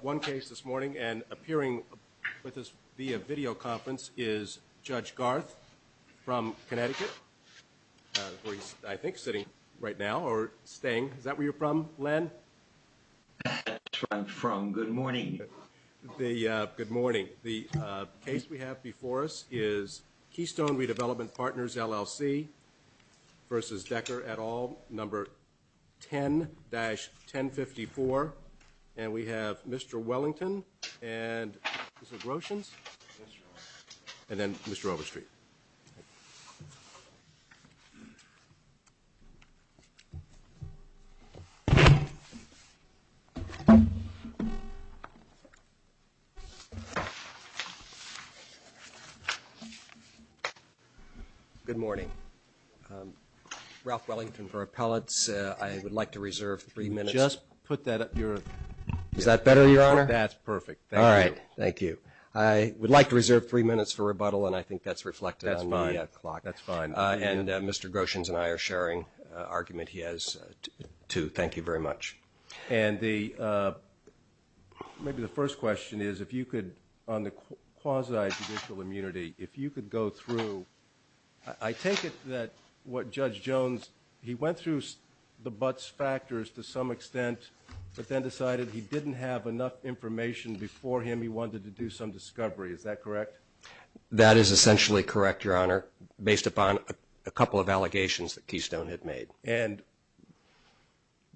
One case this morning and appearing with us via videoconference is Judge Garth from Connecticut Where he's I think sitting right now or staying. Is that where you're from Len? I'm from good morning The good morning the case we have before us is Keystone Redevelopment Partners LLC versus Decker et al number 10 dash 1054 and we have mr. Wellington and Russians and then mr. Overstreet Good morning Ralph Wellington for appellates. I would like to reserve three minutes. Just put that up your is that better your honor? That's perfect All right. Thank you. I would like to reserve three minutes for rebuttal and I think that's reflected on my clock. That's fine And mr. Groshin's and I are sharing argument he has to thank you very much and the Maybe the first question is if you could on the quasi judicial immunity if you could go through I Take it that what judge Jones he went through the buts factors to some extent But then decided he didn't have enough information before him. He wanted to do some discovery. Is that correct? that is essentially correct your honor based upon a couple of allegations that Keystone had made and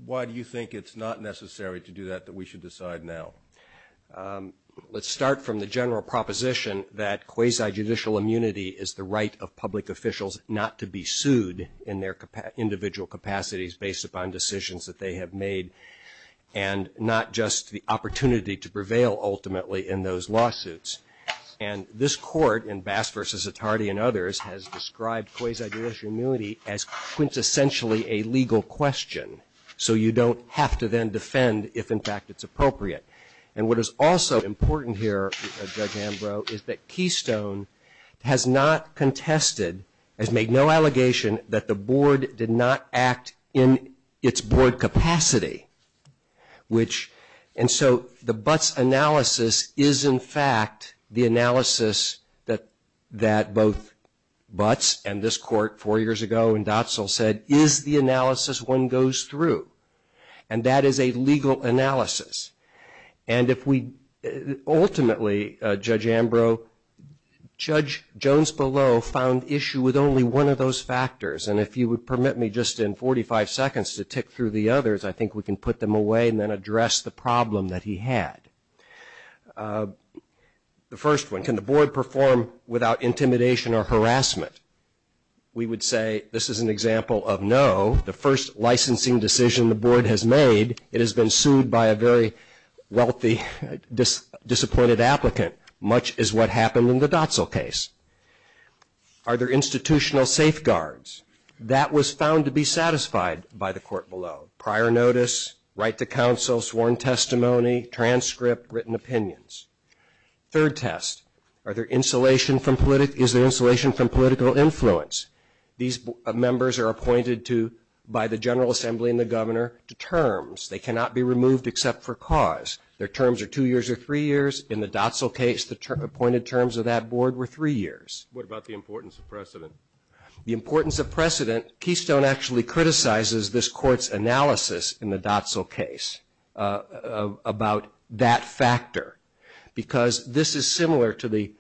Why do you think it's not necessary to do that that we should decide now Let's start from the general proposition that quasi judicial immunity is the right of public officials not to be sued in their individual capacities based upon decisions that they have made and not just the opportunity to prevail ultimately in those lawsuits and this court in bass versus a tardy and others has described quasi judicial immunity as quintessentially a legal question So you don't have to then defend if in fact it's appropriate and what is also important here Is that Keystone? Has not contested has made no allegation that the board did not act in its board capacity which and so the butts analysis is in fact the analysis that that both Butts and this court four years ago and docile said is the analysis one goes through and that is a legal analysis and if we ultimately judge Ambrose Judge Jones below found issue with only one of those factors And if you would permit me just in 45 seconds to tick through the others I think we can put them away and then address the problem that he had The first one can the board perform without intimidation or harassment We would say this is an example of know the first licensing decision. The board has made it has been sued by a very wealthy Disappointed applicant much is what happened in the docile case Are there institutional safeguards that was found to be satisfied by the court below prior notice? Right to counsel sworn testimony transcript written opinions Third test are there insulation from politic is there insulation from political influence? These members are appointed to by the General Assembly and the governor to terms They cannot be removed except for cause their terms are two years or three years in the docile case the term appointed terms of that Board were three years About the importance of precedent the importance of precedent Keystone actually criticizes this courts analysis in the docile case about that factor because this is similar to the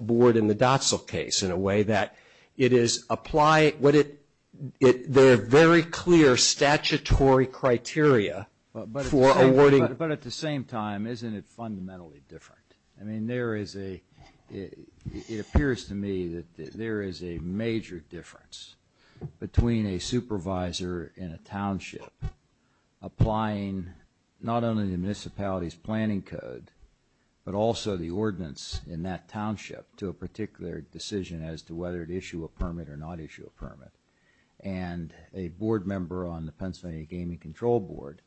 Board in the docile case in a way that it is apply what it it. They're very clear statutory Criteria for awarding but at the same time, isn't it fundamentally different? I mean there is a It appears to me that there is a major difference between a supervisor in a township applying Not only the municipalities planning code but also the ordinance in that township to a particular decision as to whether to issue a permit or not issue a permit and a board member on the Pennsylvania Gaming Control Board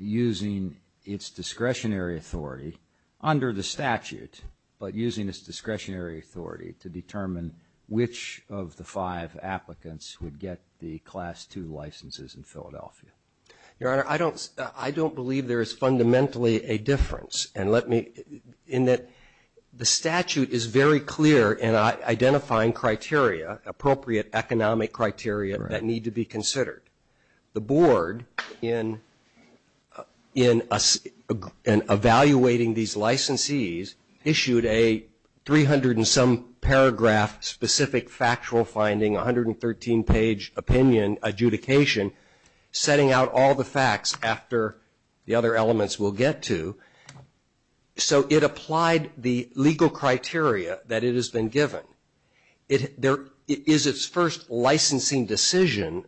Using its discretionary authority under the statute But using this discretionary authority to determine which of the five applicants would get the class to licenses in Philadelphia Your honor. I don't I don't believe there is fundamentally a difference and let me in that The statute is very clear and I identifying criteria appropriate economic criteria that need to be considered the board in in us and evaluating these licensees issued a 300 and some paragraph specific factual finding 113 page opinion adjudication setting out all the facts after the other elements will get to So it applied the legal criteria that it has been given it There is its first licensing decision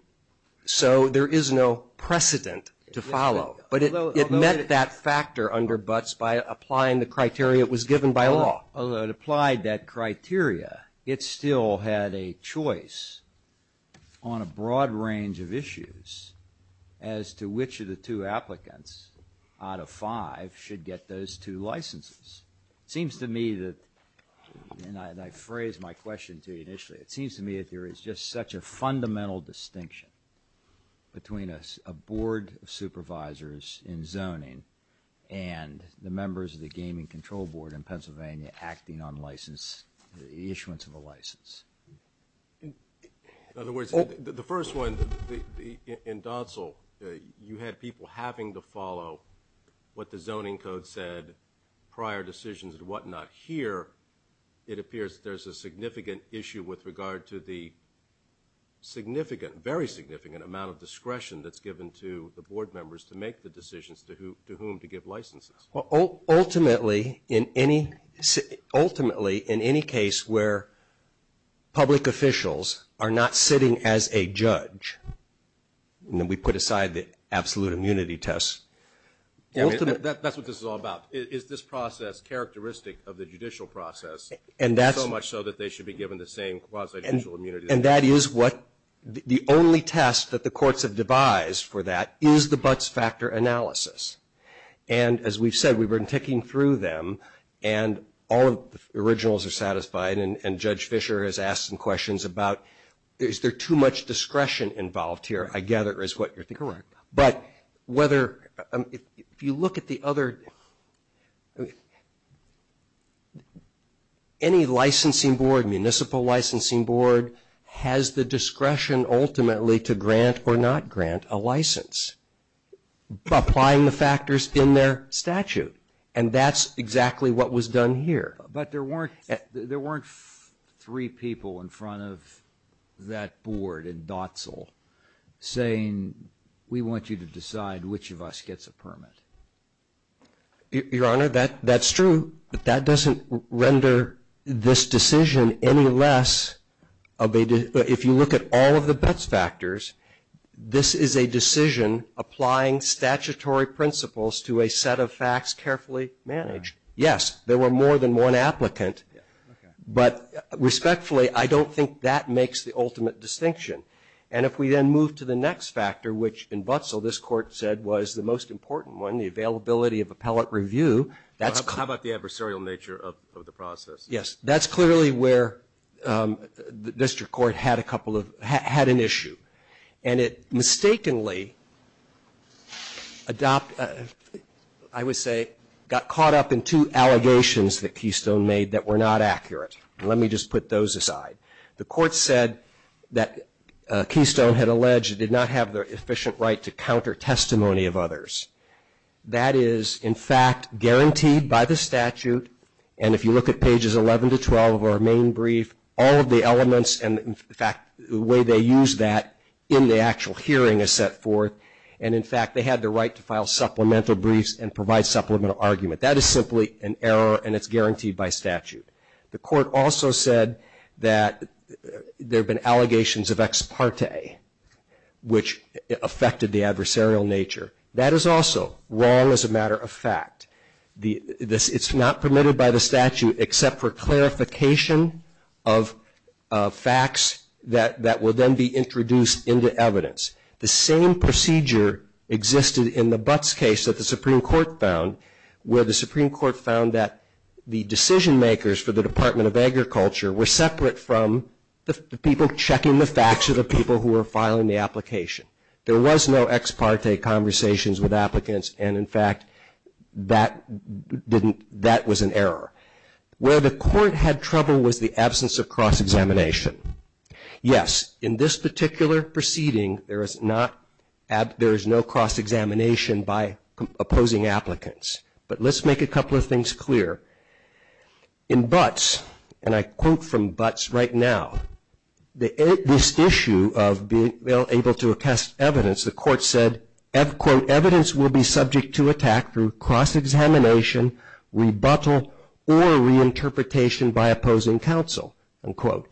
So there is no precedent to follow but it met that factor under buts by applying the criteria It was given by law. Although it applied that criteria. It still had a choice on a broad range of issues as To which of the two applicants out of five should get those two licenses. It seems to me that And I phrased my question to you initially it seems to me that there is just such a fundamental distinction between us a board of supervisors in zoning and The members of the gaming control board in Pennsylvania acting on license the issuance of a license In other words the first one the in docile you had people having to follow What the zoning code said? Prior decisions and whatnot here. It appears. There's a significant issue with regard to the Significant very significant amount of discretion that's given to the board members to make the decisions to who to whom to give licenses well, ultimately in any ultimately in any case where Public officials are not sitting as a judge And then we put aside the absolute immunity tests That's what this is all about is this process characteristic of the judicial process and that's so much so that they should be given the Same and and that is what the only test that the courts have devised for that is the buts factor analysis and as we've said we've been taking through them and All of the originals are satisfied and judge Fischer has asked some questions about is there too much discretion involved here? I gather is what you're thinking, but whether if you look at the other Any licensing board municipal licensing board has the discretion ultimately to grant or not grant a license Applying the factors in their statute and that's exactly what was done here But there weren't there weren't three people in front of that board in docile Saying we want you to decide which of us gets a permit Your honor that that's true, but that doesn't render this decision any less Of a if you look at all of the bets factors This is a decision applying statutory principles to a set of facts carefully managed Yes, there were more than one applicant But Respectfully, I don't think that makes the ultimate distinction And if we then move to the next factor which in but so this court said was the most important one the availability of appellate Review, that's how about the adversarial nature of the process. Yes, that's clearly where The district court had a couple of had an issue and it mistakenly Adopt I Got caught up in two allegations that Keystone made that were not accurate. Let me just put those aside the court said that Keystone had alleged it did not have the efficient right to counter testimony of others That is in fact Guaranteed by the statute and if you look at pages 11 to 12 of our main brief all of the elements and in fact The way they use that in the actual hearing is set forth And in fact, they had the right to file supplemental briefs and provide supplemental argument that is simply an error and it's guaranteed by statute the court also said that There have been allegations of ex parte Which affected the adversarial nature that is also wrong as a matter of fact the this it's not permitted by the statute except for clarification of Facts that that will then be introduced into evidence the same procedure Existed in the Butts case that the Supreme Court found where the Supreme Court found that the decision makers for the Department of Agriculture were separate from The people checking the facts of the people who are filing the application. There was no ex parte conversations with applicants. And in fact that Didn't that was an error Where the court had trouble was the absence of cross-examination Yes in this particular proceeding. There is not at there is no cross-examination by Opposing applicants, but let's make a couple of things clear in Butts and I quote from Butts right now the this issue of being able to attest evidence the court said F quote evidence will be subject to attack through cross-examination Rebuttal or reinterpretation by opposing counsel and quote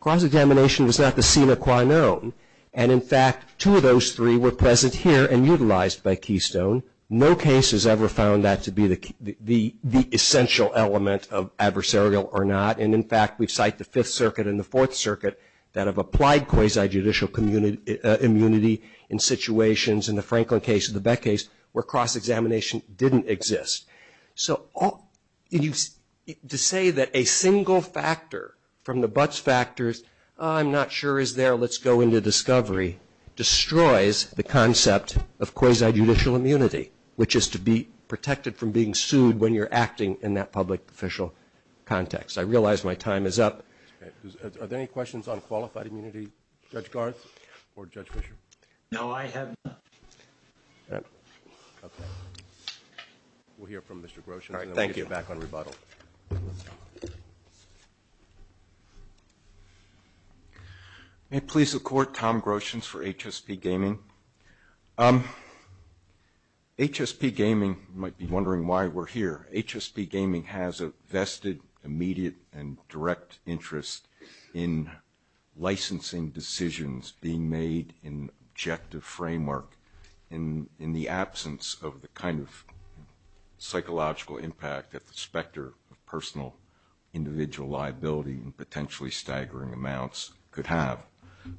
Cross-examination was not the scene of quite known and in fact two of those three were present here and utilized by Keystone No case has ever found that to be the the the essential element of adversarial or not And in fact, we cite the Fifth Circuit in the Fourth Circuit that have applied quasi judicial community Immunity in situations in the Franklin case of the Beck case where cross-examination didn't exist so all you To say that a single factor from the Butts factors. I'm not sure is there. Let's go into discovery Destroys the concept of quasi judicial immunity, which is to be protected from being sued when you're acting in that public-official Context I realize my time is up Are there any questions on qualified immunity judge Garth or judge Fisher? No, I have We'll hear from mr. Groschen, all right, thank you back on rebuttal May it please the court Tom Groschen's for HSP gaming HSP gaming might be wondering why we're here HSP gaming has a vested immediate and direct interest in licensing decisions being made in objective framework in in the absence of the kind of psychological impact at the specter of personal individual liability and potentially staggering amounts could have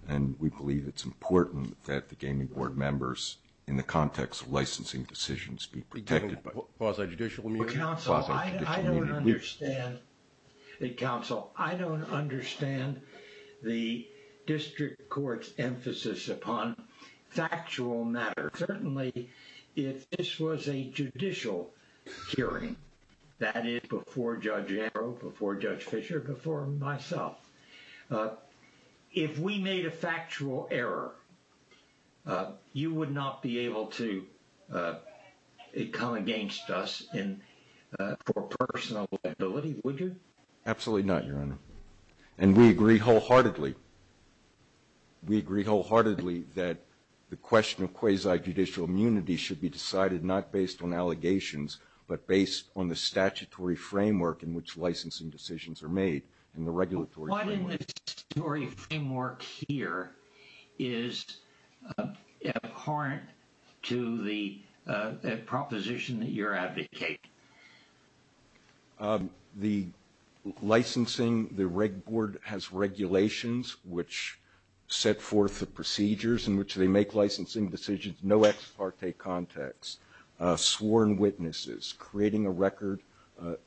and We believe it's important that the gaming board members in the context of licensing decisions be protected by The district court's emphasis upon factual matter certainly if this was a judicial Hearing that is before judge arrow before judge Fisher before myself If we made a factual error You would not be able to Come against us in Personal Absolutely, not your honor and we agree wholeheartedly We agree wholeheartedly that the question of quasi judicial immunity should be decided not based on allegations But based on the statutory framework in which licensing decisions are made in the regulatory Framework here is Abhorrent to the proposition that your advocate the Licensing the reg board has regulations which Set forth the procedures in which they make licensing decisions. No ex parte context sworn witnesses creating a record a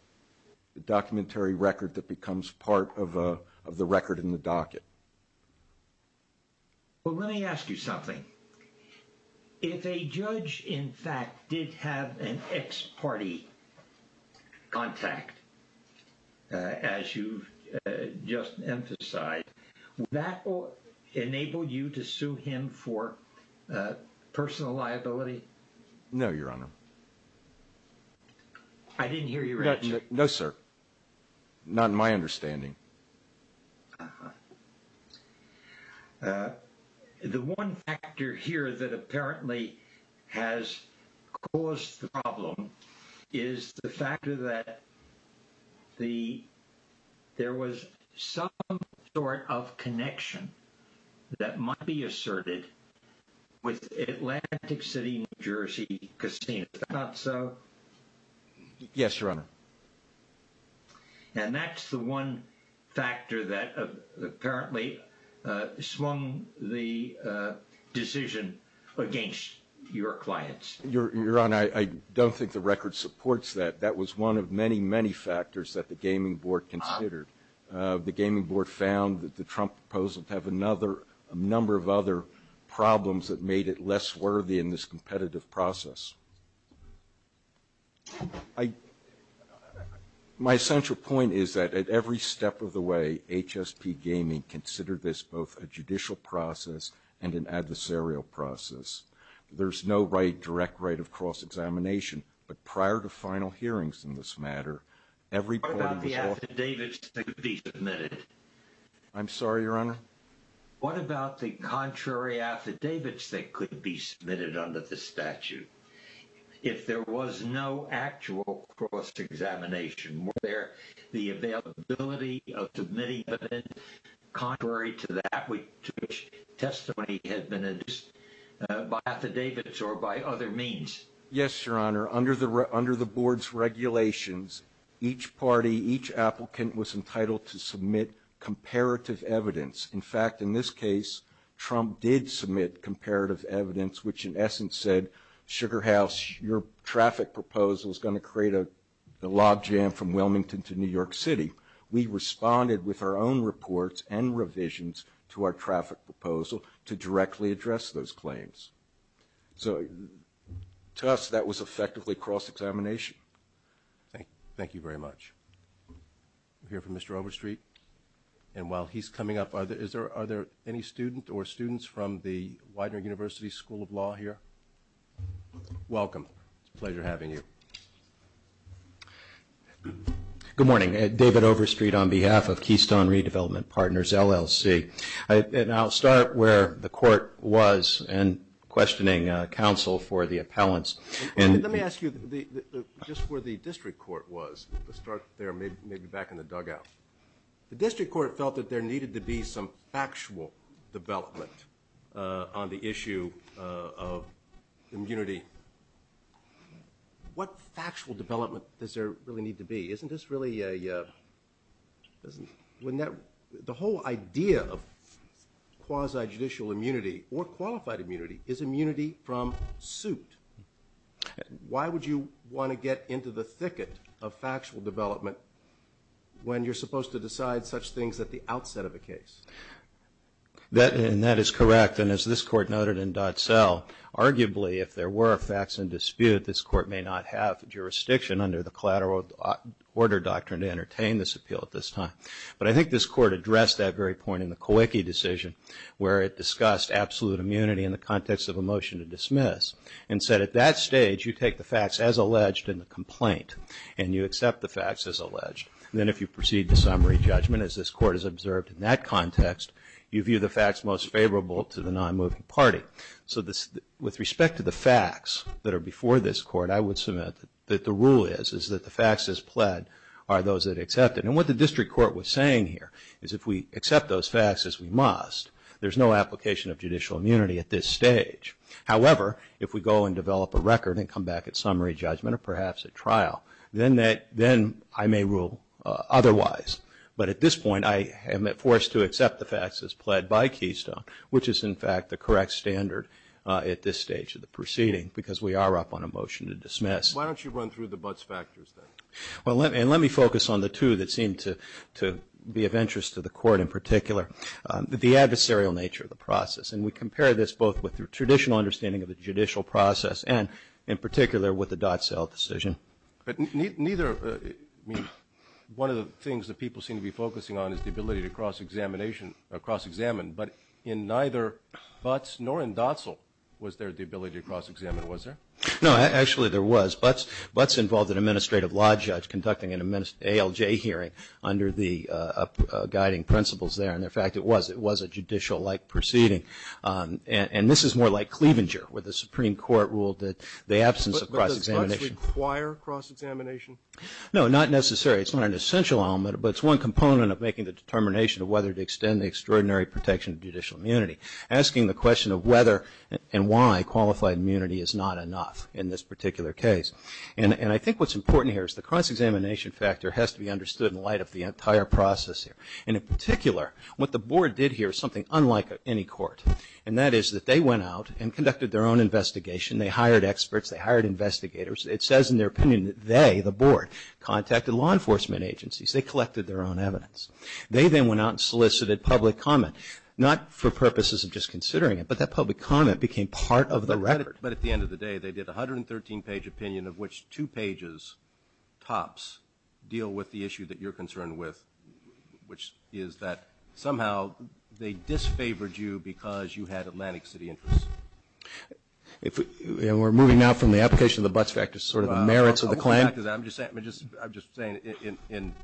Documentary record that becomes part of the record in the docket Well, let me ask you something if a judge in fact did have an ex parte contact as you've Just emphasized that will enable you to sue him for personal liability No, your honor. I Didn't hear you. No, sir, not in my understanding The one factor here that apparently has Caused the problem is the factor that the There was some sort of connection That might be asserted With Atlantic City, New Jersey casino not so Yes, your honor And that's the one factor that apparently swung the Decision Against your clients your honor. I don't think the record supports that that was one of many many factors that the gaming board considered The gaming board found that the Trump proposal to have another a number of other Problems that made it less worthy in this competitive process. I My essential point is that at every step of the way HSP gaming consider this both a judicial process and an adversarial process There's no right direct right of cross-examination But prior to final hearings in this matter every part of the affidavits to be submitted I'm sorry, your honor What about the contrary affidavits that could be submitted under the statute? if there was no actual Examination Contrary to that testimony had been Affidavits or by other means? Yes, your honor under the under the board's Regulations each party each applicant was entitled to submit Comparative evidence in fact in this case Trump did submit comparative evidence Which in essence said sugar house your traffic proposal is going to create a the lobjam from Wilmington to New York City We responded with our own reports and revisions to our traffic proposal to directly address those claims so To us that was effectively cross-examination Thank thank you very much I'm here for mr. Overstreet and while he's coming up Is there are there any student or students from the Widener University School of Law here Welcome pleasure having you Good morning at David Overstreet on behalf of Keystone redevelopment partners LLC And I'll start where the court was and questioning counsel for the appellants And let me ask you the just where the district court was the start there may be back in the dugout District court felt that there needed to be some factual development on the issue of immunity What factual development does there really need to be isn't this really a Doesn't when that the whole idea of Quasi judicial immunity or qualified immunity is immunity from suit Why would you want to get into the thicket of factual development? When you're supposed to decide such things at the outset of a case That and that is correct and as this court noted in dot cell Arguably if there were facts in dispute this court may not have jurisdiction under the collateral Order doctrine to entertain this appeal at this time But I think this court addressed that very point in the quickie decision Where it discussed absolute immunity in the context of a motion to dismiss and said at that stage you take the facts as alleged in Complaint and you accept the facts as alleged and then if you proceed to summary judgment as this court is observed in that context You view the facts most favorable to the non-moving party So this with respect to the facts that are before this court I would submit that the rule is is that the facts as pled Are those that accepted and what the district court was saying here is if we accept those facts as we must There's no application of judicial immunity at this stage However, if we go and develop a record and come back at summary judgment or perhaps at trial then that then I may rule Otherwise, but at this point I have met forced to accept the facts as pled by Keystone Which is in fact the correct standard at this stage of the proceeding because we are up on a motion to dismiss Why don't you run through the butts factors? Well, let me and let me focus on the two that seem to to be of interest to the court in particular The adversarial nature of the process and we compare this both with the traditional understanding of the judicial process and in particular with the dot cell decision, but neither One of the things that people seem to be focusing on is the ability to cross examination or cross-examine but in neither Butts nor in docile was there the ability to cross-examine was there? no, actually there was buts buts involved an administrative law judge conducting an immense ALJ hearing under the Guiding principles there. And in fact, it was it was a judicial like proceeding And and this is more like Cleavinger where the Supreme Court ruled that the absence of cross-examination No, not necessarily It's not an essential element But it's one component of making the determination of whether to extend the extraordinary protection of judicial immunity Asking the question of whether and why qualified immunity is not enough in this particular case And and I think what's important here is the cross-examination factor has to be understood in light of the entire process here and in particular What the board did here is something unlike any court and that is that they went out and conducted their own investigation They hired experts they hired investigators. It says in their opinion that they the board contacted law enforcement agencies They collected their own evidence They then went out and solicited public comment not for purposes of just considering it But that public comment became part of the record But at the end of the day, they did a hundred and thirteen page opinion of which two pages tops deal with the issue that you're concerned with Which is that somehow they disfavored you because you had Atlantic City interest If we're moving now from the application of the butts back to sort of the merits of the claim I'm just saying I'm just I'm just saying in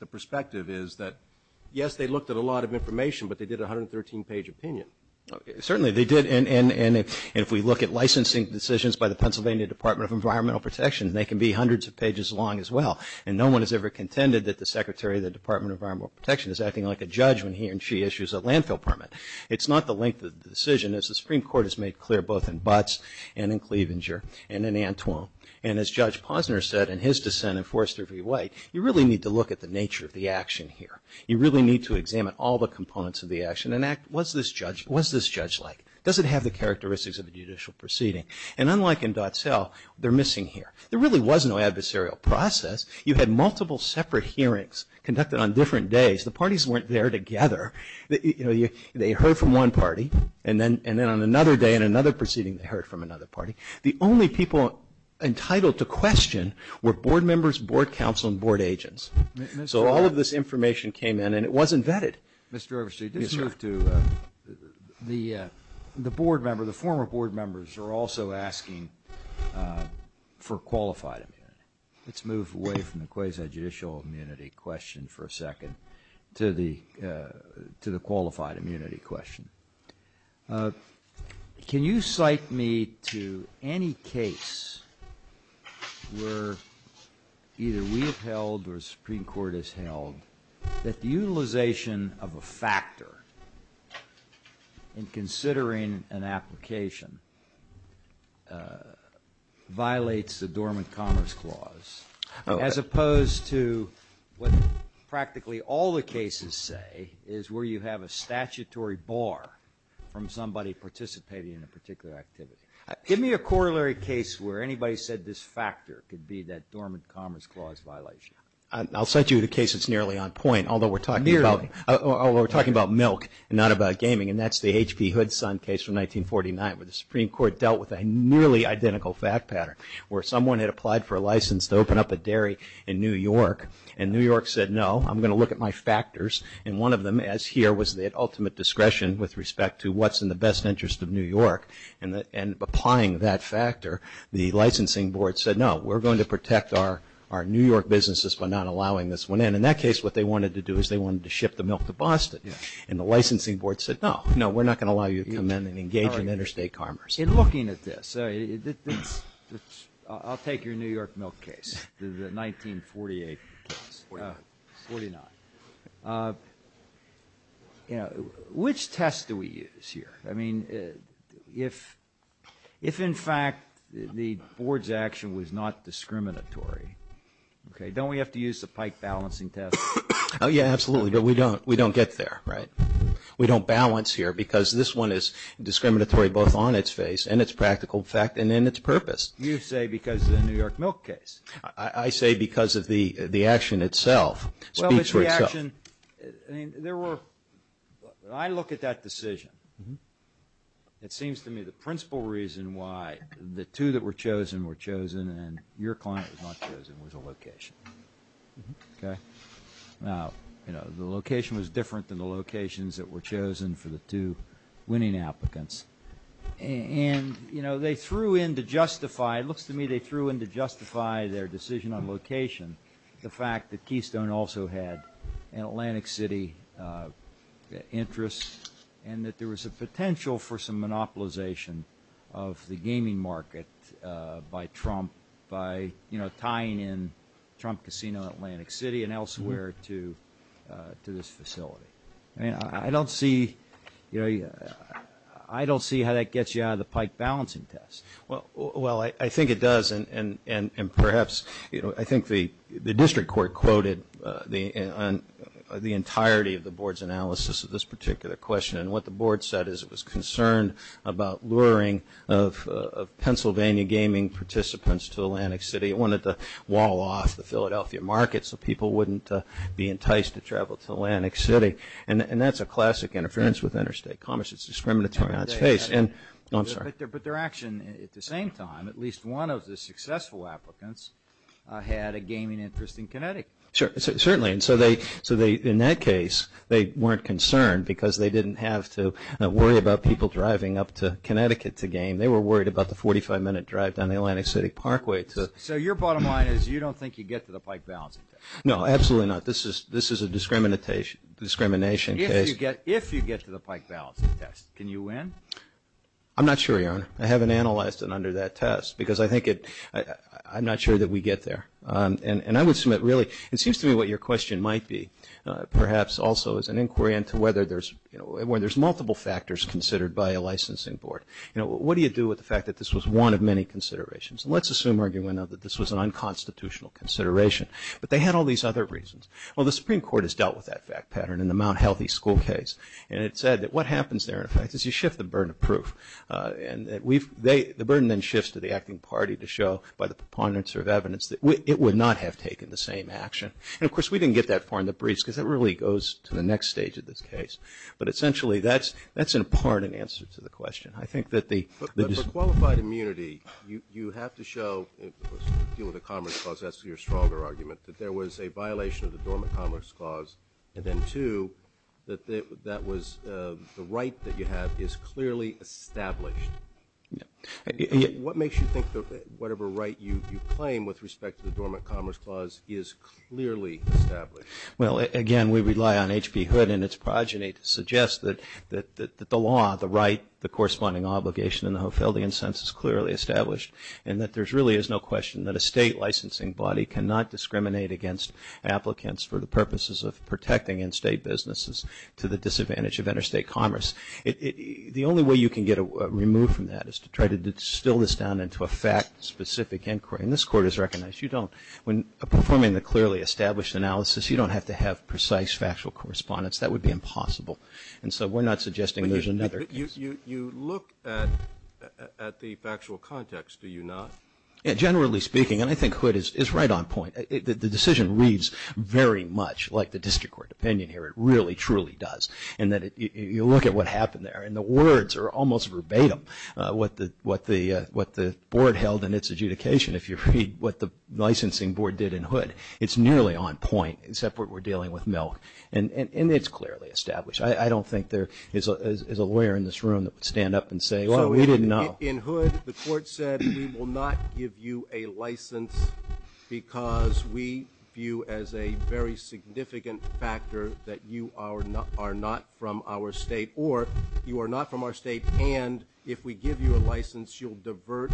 the perspective is that yes, they looked at a lot of information But they did a hundred thirteen page opinion Certainly they did and and and if we look at licensing decisions by the Pennsylvania Department of Environmental Protection They can be hundreds of pages long as well And no one has ever contended that the secretary of the Department of Environmental Protection is acting like a judge when he and she issues a landfill permit It's not the length of the decision as the Supreme Court has made clear both in butts and in Cleavenger and in Antoine and as judge Posner said in his dissent and Forrester v. White you really need to look at the nature of the action here You really need to examine all the components of the action and act was this judge? What's this judge like does it have the characteristics of a judicial proceeding and unlike in dot cell they're missing here There really was no adversarial process. You had multiple separate hearings conducted on different days. The parties weren't there together You know you they heard from one party and then and then on another day and another proceeding they heard from another party the only people Entitled to question were board members board council and board agents So all of this information came in and it wasn't vetted. Mr. Oversee this move to the the board member the former board members are also asking for qualified Let's move away from the quasi judicial immunity question for a second to the to the qualified immunity question Can you cite me to any case Where either we have held or Supreme Court has held that the utilization of a factor in considering an application Violates the dormant commerce clause as opposed to What practically all the cases say is where you have a statutory bar? From somebody participating in a particular activity Give me a corollary case where anybody said this factor could be that dormant commerce clause violation. I'll set you the case It's nearly on point Although we're talking about we're talking about milk and not about gaming and that's the HP hood son case from 1949 but the Supreme Court dealt with a Nearly identical fact pattern where someone had applied for a license to open up a dairy in New York and New York said no I'm gonna look at my factors and one of them as here was that ultimate discretion with respect to what's in the best interest of New York and that and applying that factor the licensing board said no We're going to protect our our New York businesses by not allowing this one in in that case What they wanted to do is they wanted to ship the milk to Boston and the licensing board said no No, we're not going to allow you to come in and engage in interstate commerce in looking at this I'll take your New York milk case 1948 You Know which test do we use here? I mean if If in fact the board's action was not discriminatory Okay, don't we have to use the pike balancing test? Oh, yeah, absolutely, but we don't we don't get there, right? We don't balance here because this one is Discriminatory both on its face and its practical fact and then its purpose you say because the New York milk case I say because of the the action itself There were I Look at that decision It seems to me the principal reason why the two that were chosen were chosen and your client was not chosen was a location Okay Now, you know the location was different than the locations that were chosen for the two winning applicants And you know, they threw in to justify it looks to me They threw in to justify their decision on location the fact that Keystone also had an Atlantic City Interests and that there was a potential for some monopolization of the gaming market by Trump by you know, tying in Trump Casino Atlantic City and elsewhere to To this facility. I mean, I don't see you know I don't see how that gets you out of the pike balancing test well, well, I think it does and and and and perhaps, you know, I think the the district court quoted the the entirety of the board's analysis of this particular question and what the board said is it was concerned about luring of Pennsylvania gaming participants to Atlantic City wanted to wall off the Philadelphia market So people wouldn't be enticed to travel to Atlantic City and and that's a classic interference with interstate commerce. It's discriminatory on its face and But their action at the same time at least one of the successful applicants Had a gaming interest in Connecticut Sure, certainly and so they so they in that case They weren't concerned because they didn't have to worry about people driving up to Connecticut to game They were worried about the 45-minute drive down the Atlantic City Parkway So your bottom line is you don't think you get to the pike balancing test. No, absolutely not. This is this is a discrimination Discrimination. Okay, you get if you get to the pike balancing test. Can you win? I'm not sure your honor. I haven't analyzed it under that test because I think it I'm not sure that we get there And and I would submit really it seems to me what your question might be Perhaps also as an inquiry into whether there's you know, where there's multiple factors considered by a licensing board, you know What do you do with the fact that this was one of many considerations? Let's assume arguing We know that this was an unconstitutional consideration, but they had all these other reasons Well, the Supreme Court has dealt with that fact pattern in the Mount Healthy school case And it said that what happens there in fact is you shift the burden of proof? And we've they the burden then shifts to the acting party to show by the proponents of evidence that it would not have taken the Same action and of course we didn't get that far in the breeze because that really goes to the next stage of this case But essentially that's that's in part an answer to the question I think that the qualified immunity you you have to show Deal with the Commerce Clause that's your stronger argument that there was a violation of the Dormant Commerce Clause and then to That that was the right that you have is clearly established What makes you think that whatever right you you claim with respect to the Dormant Commerce Clause is clearly established Well again, we rely on HB Hood and its progeny to suggest that that the law the right the corresponding obligation And the Hofeldian sense is clearly established and that there's really is no question that a state licensing body cannot discriminate against applicants for the purposes of protecting in-state businesses to the disadvantage of interstate commerce it The only way you can get a remove from that is to try to distill this down into a fact Specific inquiry in this court is recognized. You don't when performing the clearly established analysis You don't have to have precise factual correspondence. That would be impossible. And so we're not suggesting there's another you you look at At the factual context. Do you not? Generally speaking and I think hood is right on point the decision reads Very much like the district court opinion here It really truly does and that you look at what happened there and the words are almost verbatim What the what the what the board held in its adjudication if you read what the licensing board did in hood It's nearly on point except what we're dealing with milk and and it's clearly established I don't think there is a lawyer in this room that would stand up and say well We didn't know in hood. The court said we will not give you a license because we view as a very Significant factor that you are not are not from our state or you are not from our state And if we give you a license, you'll divert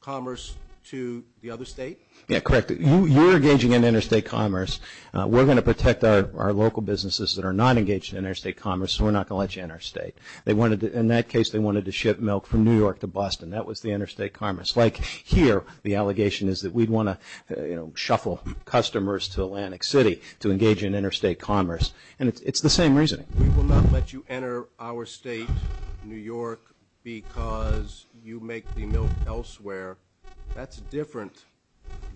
Commerce to the other state. Yeah, correct. You're engaging in interstate commerce We're gonna protect our local businesses that are not engaged in interstate commerce. We're not gonna let you in our state They wanted in that case. They wanted to ship milk from New York to Boston That was the interstate commerce like here The allegation is that we'd want to you know Shuffle customers to Atlantic City to engage in interstate commerce and it's the same reasoning Let you enter our state New York because you make the milk elsewhere That's different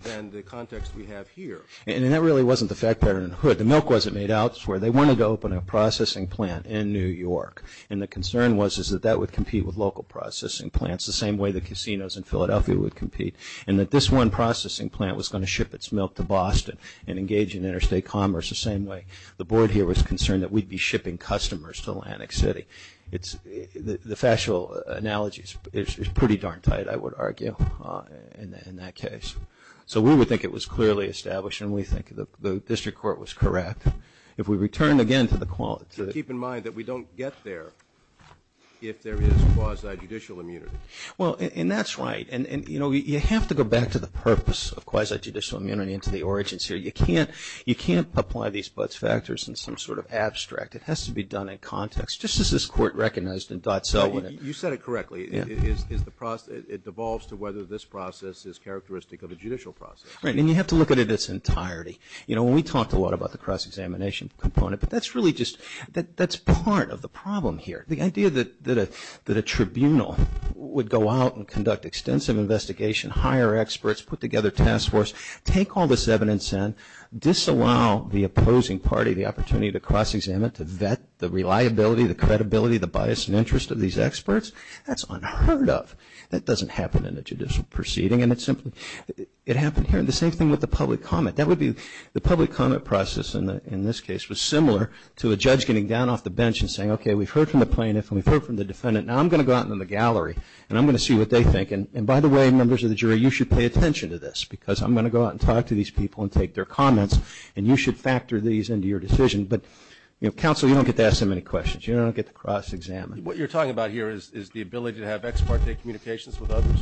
Than the context we have here and that really wasn't the fact pattern hood The milk wasn't made out where they wanted to open a processing plant in New York And the concern was is that that would compete with local Processing plants the same way the casinos in Philadelphia would compete and that this one Processing plant was going to ship its milk to Boston and engage in interstate commerce the same way The board here was concerned that we'd be shipping customers to Atlantic City. It's the the factual analogies It's pretty darn tight. I would argue in that case So we would think it was clearly established and we think the district court was correct If we return again to the quality to keep in mind that we don't get there If there is quasi judicial immunity Well, and that's right And and you know You have to go back to the purpose of quasi judicial immunity into the origins here You can't you can't apply these buts factors in some sort of abstract It has to be done in context just as this court recognized and thought so when you said it correctly Yeah, is the process it devolves to whether this process is characteristic of a judicial process, right? And you have to look at it its entirety, you know when we talked a lot about the cross-examination component But that's really just that that's part of the problem here the idea that that a that a tribunal Would go out and conduct extensive investigation hire experts put together task force take all this evidence and Disallow the opposing party the opportunity to cross-examine it to vet the reliability the credibility the bias and interest of these experts That's unheard of that doesn't happen in a judicial proceeding and it's simply it happened here the same thing with the public comment That would be the public comment process and in this case was similar to a judge getting down off the bench and saying okay We've heard from the plaintiff and we've heard from the defendant now I'm gonna go out in the gallery and I'm gonna see what they think and by the way members of the jury you should pay attention to this because I'm gonna go out and talk to these people and take their comments and you should factor these into your Decision, but you know counsel you don't get to ask them any questions. You don't get the cross-examine What you're talking about here is the ability to have ex parte communications with others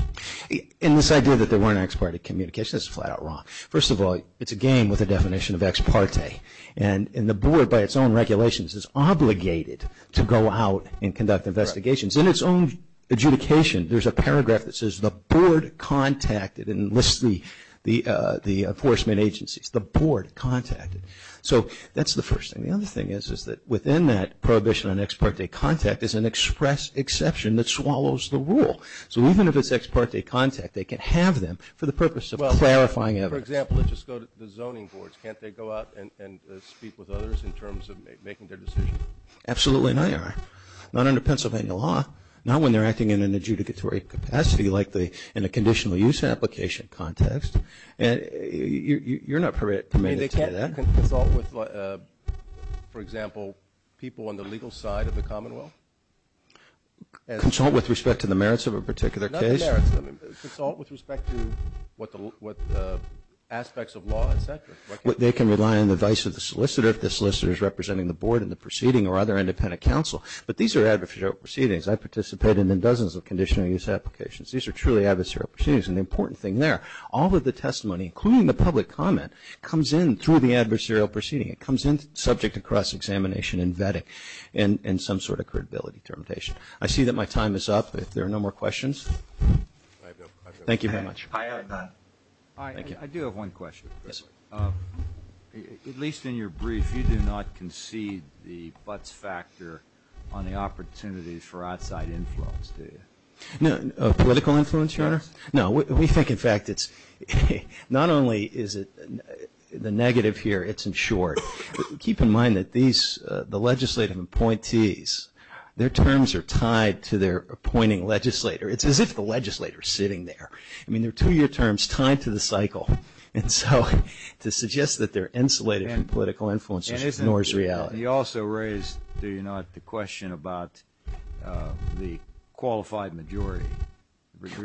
in this idea that there were an ex parte communication That's flat-out wrong. First of all, it's a game with a definition of ex parte and in the board by its own regulations It's obligated to go out and conduct investigations in its own Adjudication there's a paragraph that says the board contacted and list the the the enforcement agencies the board Contacted so that's the first thing The other thing is is that within that prohibition on ex parte contact is an express exception that swallows the rule So even if it's ex parte contact they can have them for the purpose of clarifying ever example Let's just go to the zoning boards. Can't they go out and speak with others in terms of making their decision? Absolutely, no, you're not under Pennsylvania law now when they're acting in an adjudicatory capacity like the in a conditional use application context and You're not permitted For example people on the legal side of the Commonwealth Consult with respect to the merits of a particular case With Aspects of law What they can rely on the vice of the solicitor if the solicitor is representing the board in the proceeding or other independent counsel But these are adversarial proceedings. I participated in dozens of conditional use applications These are truly adversarial shoes and the important thing there all of the testimony including the public comment comes in through the adversarial proceeding It comes in subject across examination and vetting and in some sort of credibility termination I see that my time is up if there are no more questions Thank you very much At least in your brief you do not concede the buts factor on the opportunities for outside influence Do you know political influence your honor? No, we think in fact, it's Not only is it? The negative here. It's in short. Keep in mind that these the legislative appointees Their terms are tied to their appointing legislator. It's as if the legislators sitting there I mean, they're two-year terms tied to the cycle and so to suggest that they're insulated and political influences Nor is reality. He also raised. Do you not the question about? the qualified majority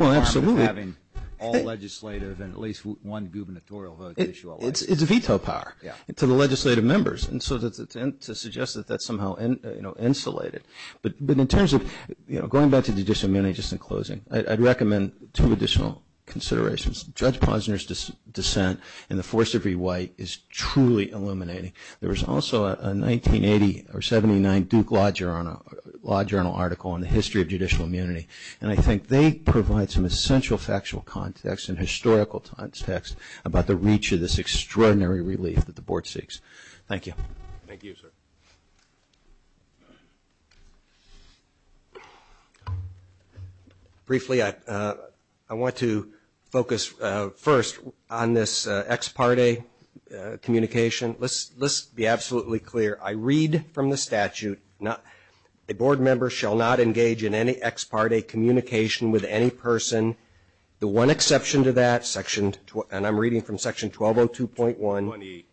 Well, absolutely having all legislative and at least one gubernatorial vote. It's it's a veto power Yeah to the legislative members and so that's attempt to suggest that that's somehow and you know insulated But but in terms of you know going back to the disseminate just in closing I'd recommend two additional considerations judge Posner's dissent and the force of rewrite is truly illuminating there was also a 1980 or 79 Duke Law Journal Law Journal article on the history of judicial immunity And I think they provide some essential factual context in historical times text about the reach of this Extraordinary relief that the board seeks. Thank you I Briefly I I want to focus first on this ex parte Communication. Let's let's be absolutely clear I read from the statute not a board member shall not engage in any ex parte communication with any person the one exception to that section and I'm reading from section 120 2.1 20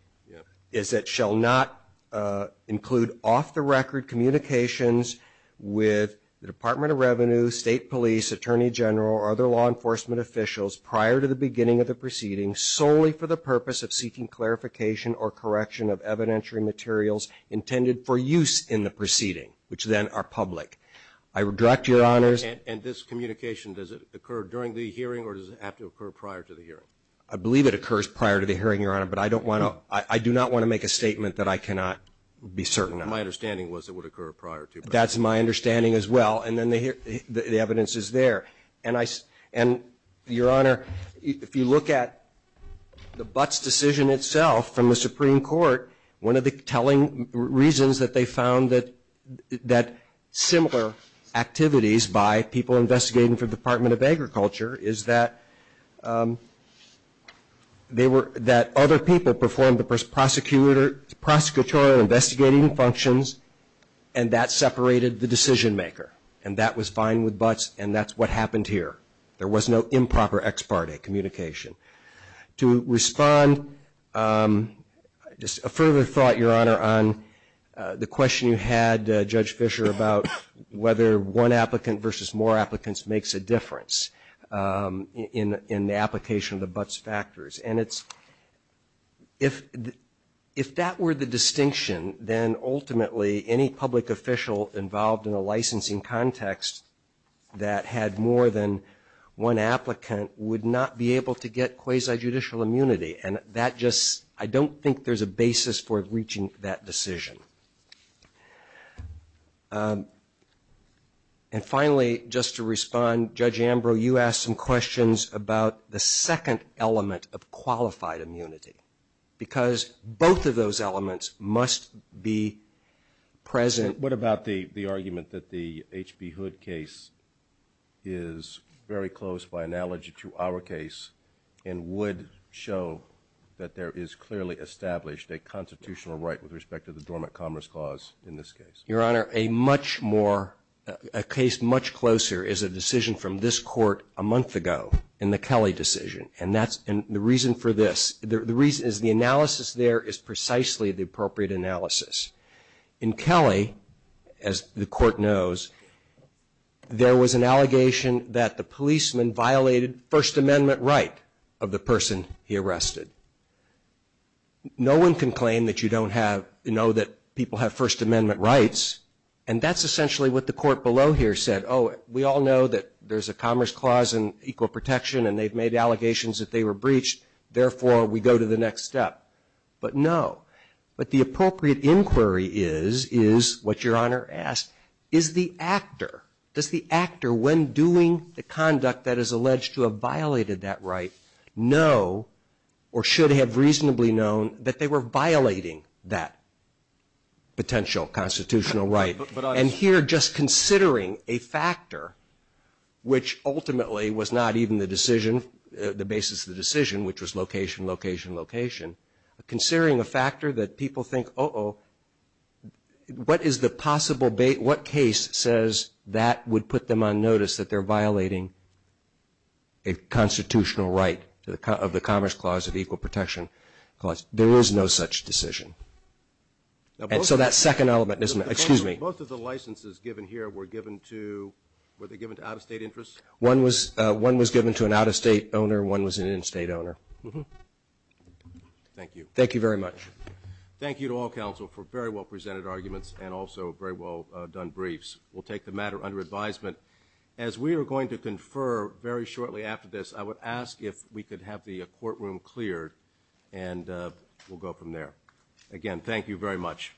is that shall not include off-the-record communications with the Department of Revenue State Police Attorney General or other law enforcement Officials prior to the beginning of the proceedings solely for the purpose of seeking clarification or correction of evidentiary materials Intended for use in the proceeding which then are public I would direct your honors and this communication Does it occur during the hearing or does it have to occur prior to the hearing? I believe it occurs prior to the hearing your honor But I don't want to I do not want to make a statement that I cannot Be certain my understanding was it would occur prior to that's my understanding as well and then they hear the evidence is there and I and your honor if you look at The Butts decision itself from the Supreme Court. One of the telling reasons that they found that that similar activities by people investigating for the Department of Agriculture is that They were that other people performed the first prosecutor prosecutorial investigating functions and That separated the decision-maker and that was fine with Butts and that's what happened here. There was no improper ex parte communication to respond Just a further thought your honor on The question you had judge Fisher about whether one applicant versus more applicants makes a difference in in the application of the Butts factors and it's if If that were the distinction then ultimately any public official involved in a licensing context that had more than One applicant would not be able to get quasi-judicial immunity and that just I don't think there's a basis for reaching that decision And Finally just to respond judge Ambrose you asked some questions about the second element of qualified immunity because both of those elements must be present what about the the argument that the HB hood case is very close by analogy to our case and Would show that there is clearly established a constitutional right with respect to the Dormant Commerce Clause in this case Your honor a much more a case much closer is a decision from this court a month ago in the Kelly decision And that's and the reason for this the reason is the analysis there is precisely the appropriate analysis in Kelly as the court knows There was an allegation that the policeman violated First Amendment right of the person he arrested No one can claim that you don't have you know that people have First Amendment rights And that's essentially what the court below here said oh We all know that there's a Commerce Clause and equal protection, and they've made allegations that they were breached therefore We go to the next step, but no, but the appropriate inquiry is is what your honor asked is the actor Does the actor when doing the conduct that is alleged to have violated that right? Know or should have reasonably known that they were violating that Potential constitutional right and here just considering a factor Which ultimately was not even the decision the basis of the decision which was location location location? Considering a factor that people think oh What is the possible bait what case says that would put them on notice that they're violating a Constitutional right to the cut of the Commerce Clause of equal protection because there is no such decision And so that second element isn't excuse me both of the licenses given here were given to Were they given to out-of-state interest one was one was given to an out-of-state owner one was an in-state owner Thank you, thank you very much Thank you to all counsel for very well presented arguments and also very well done briefs The matter under advisement as we are going to confer very shortly after this I would ask if we could have the courtroom cleared and We'll go from there again. Thank you very much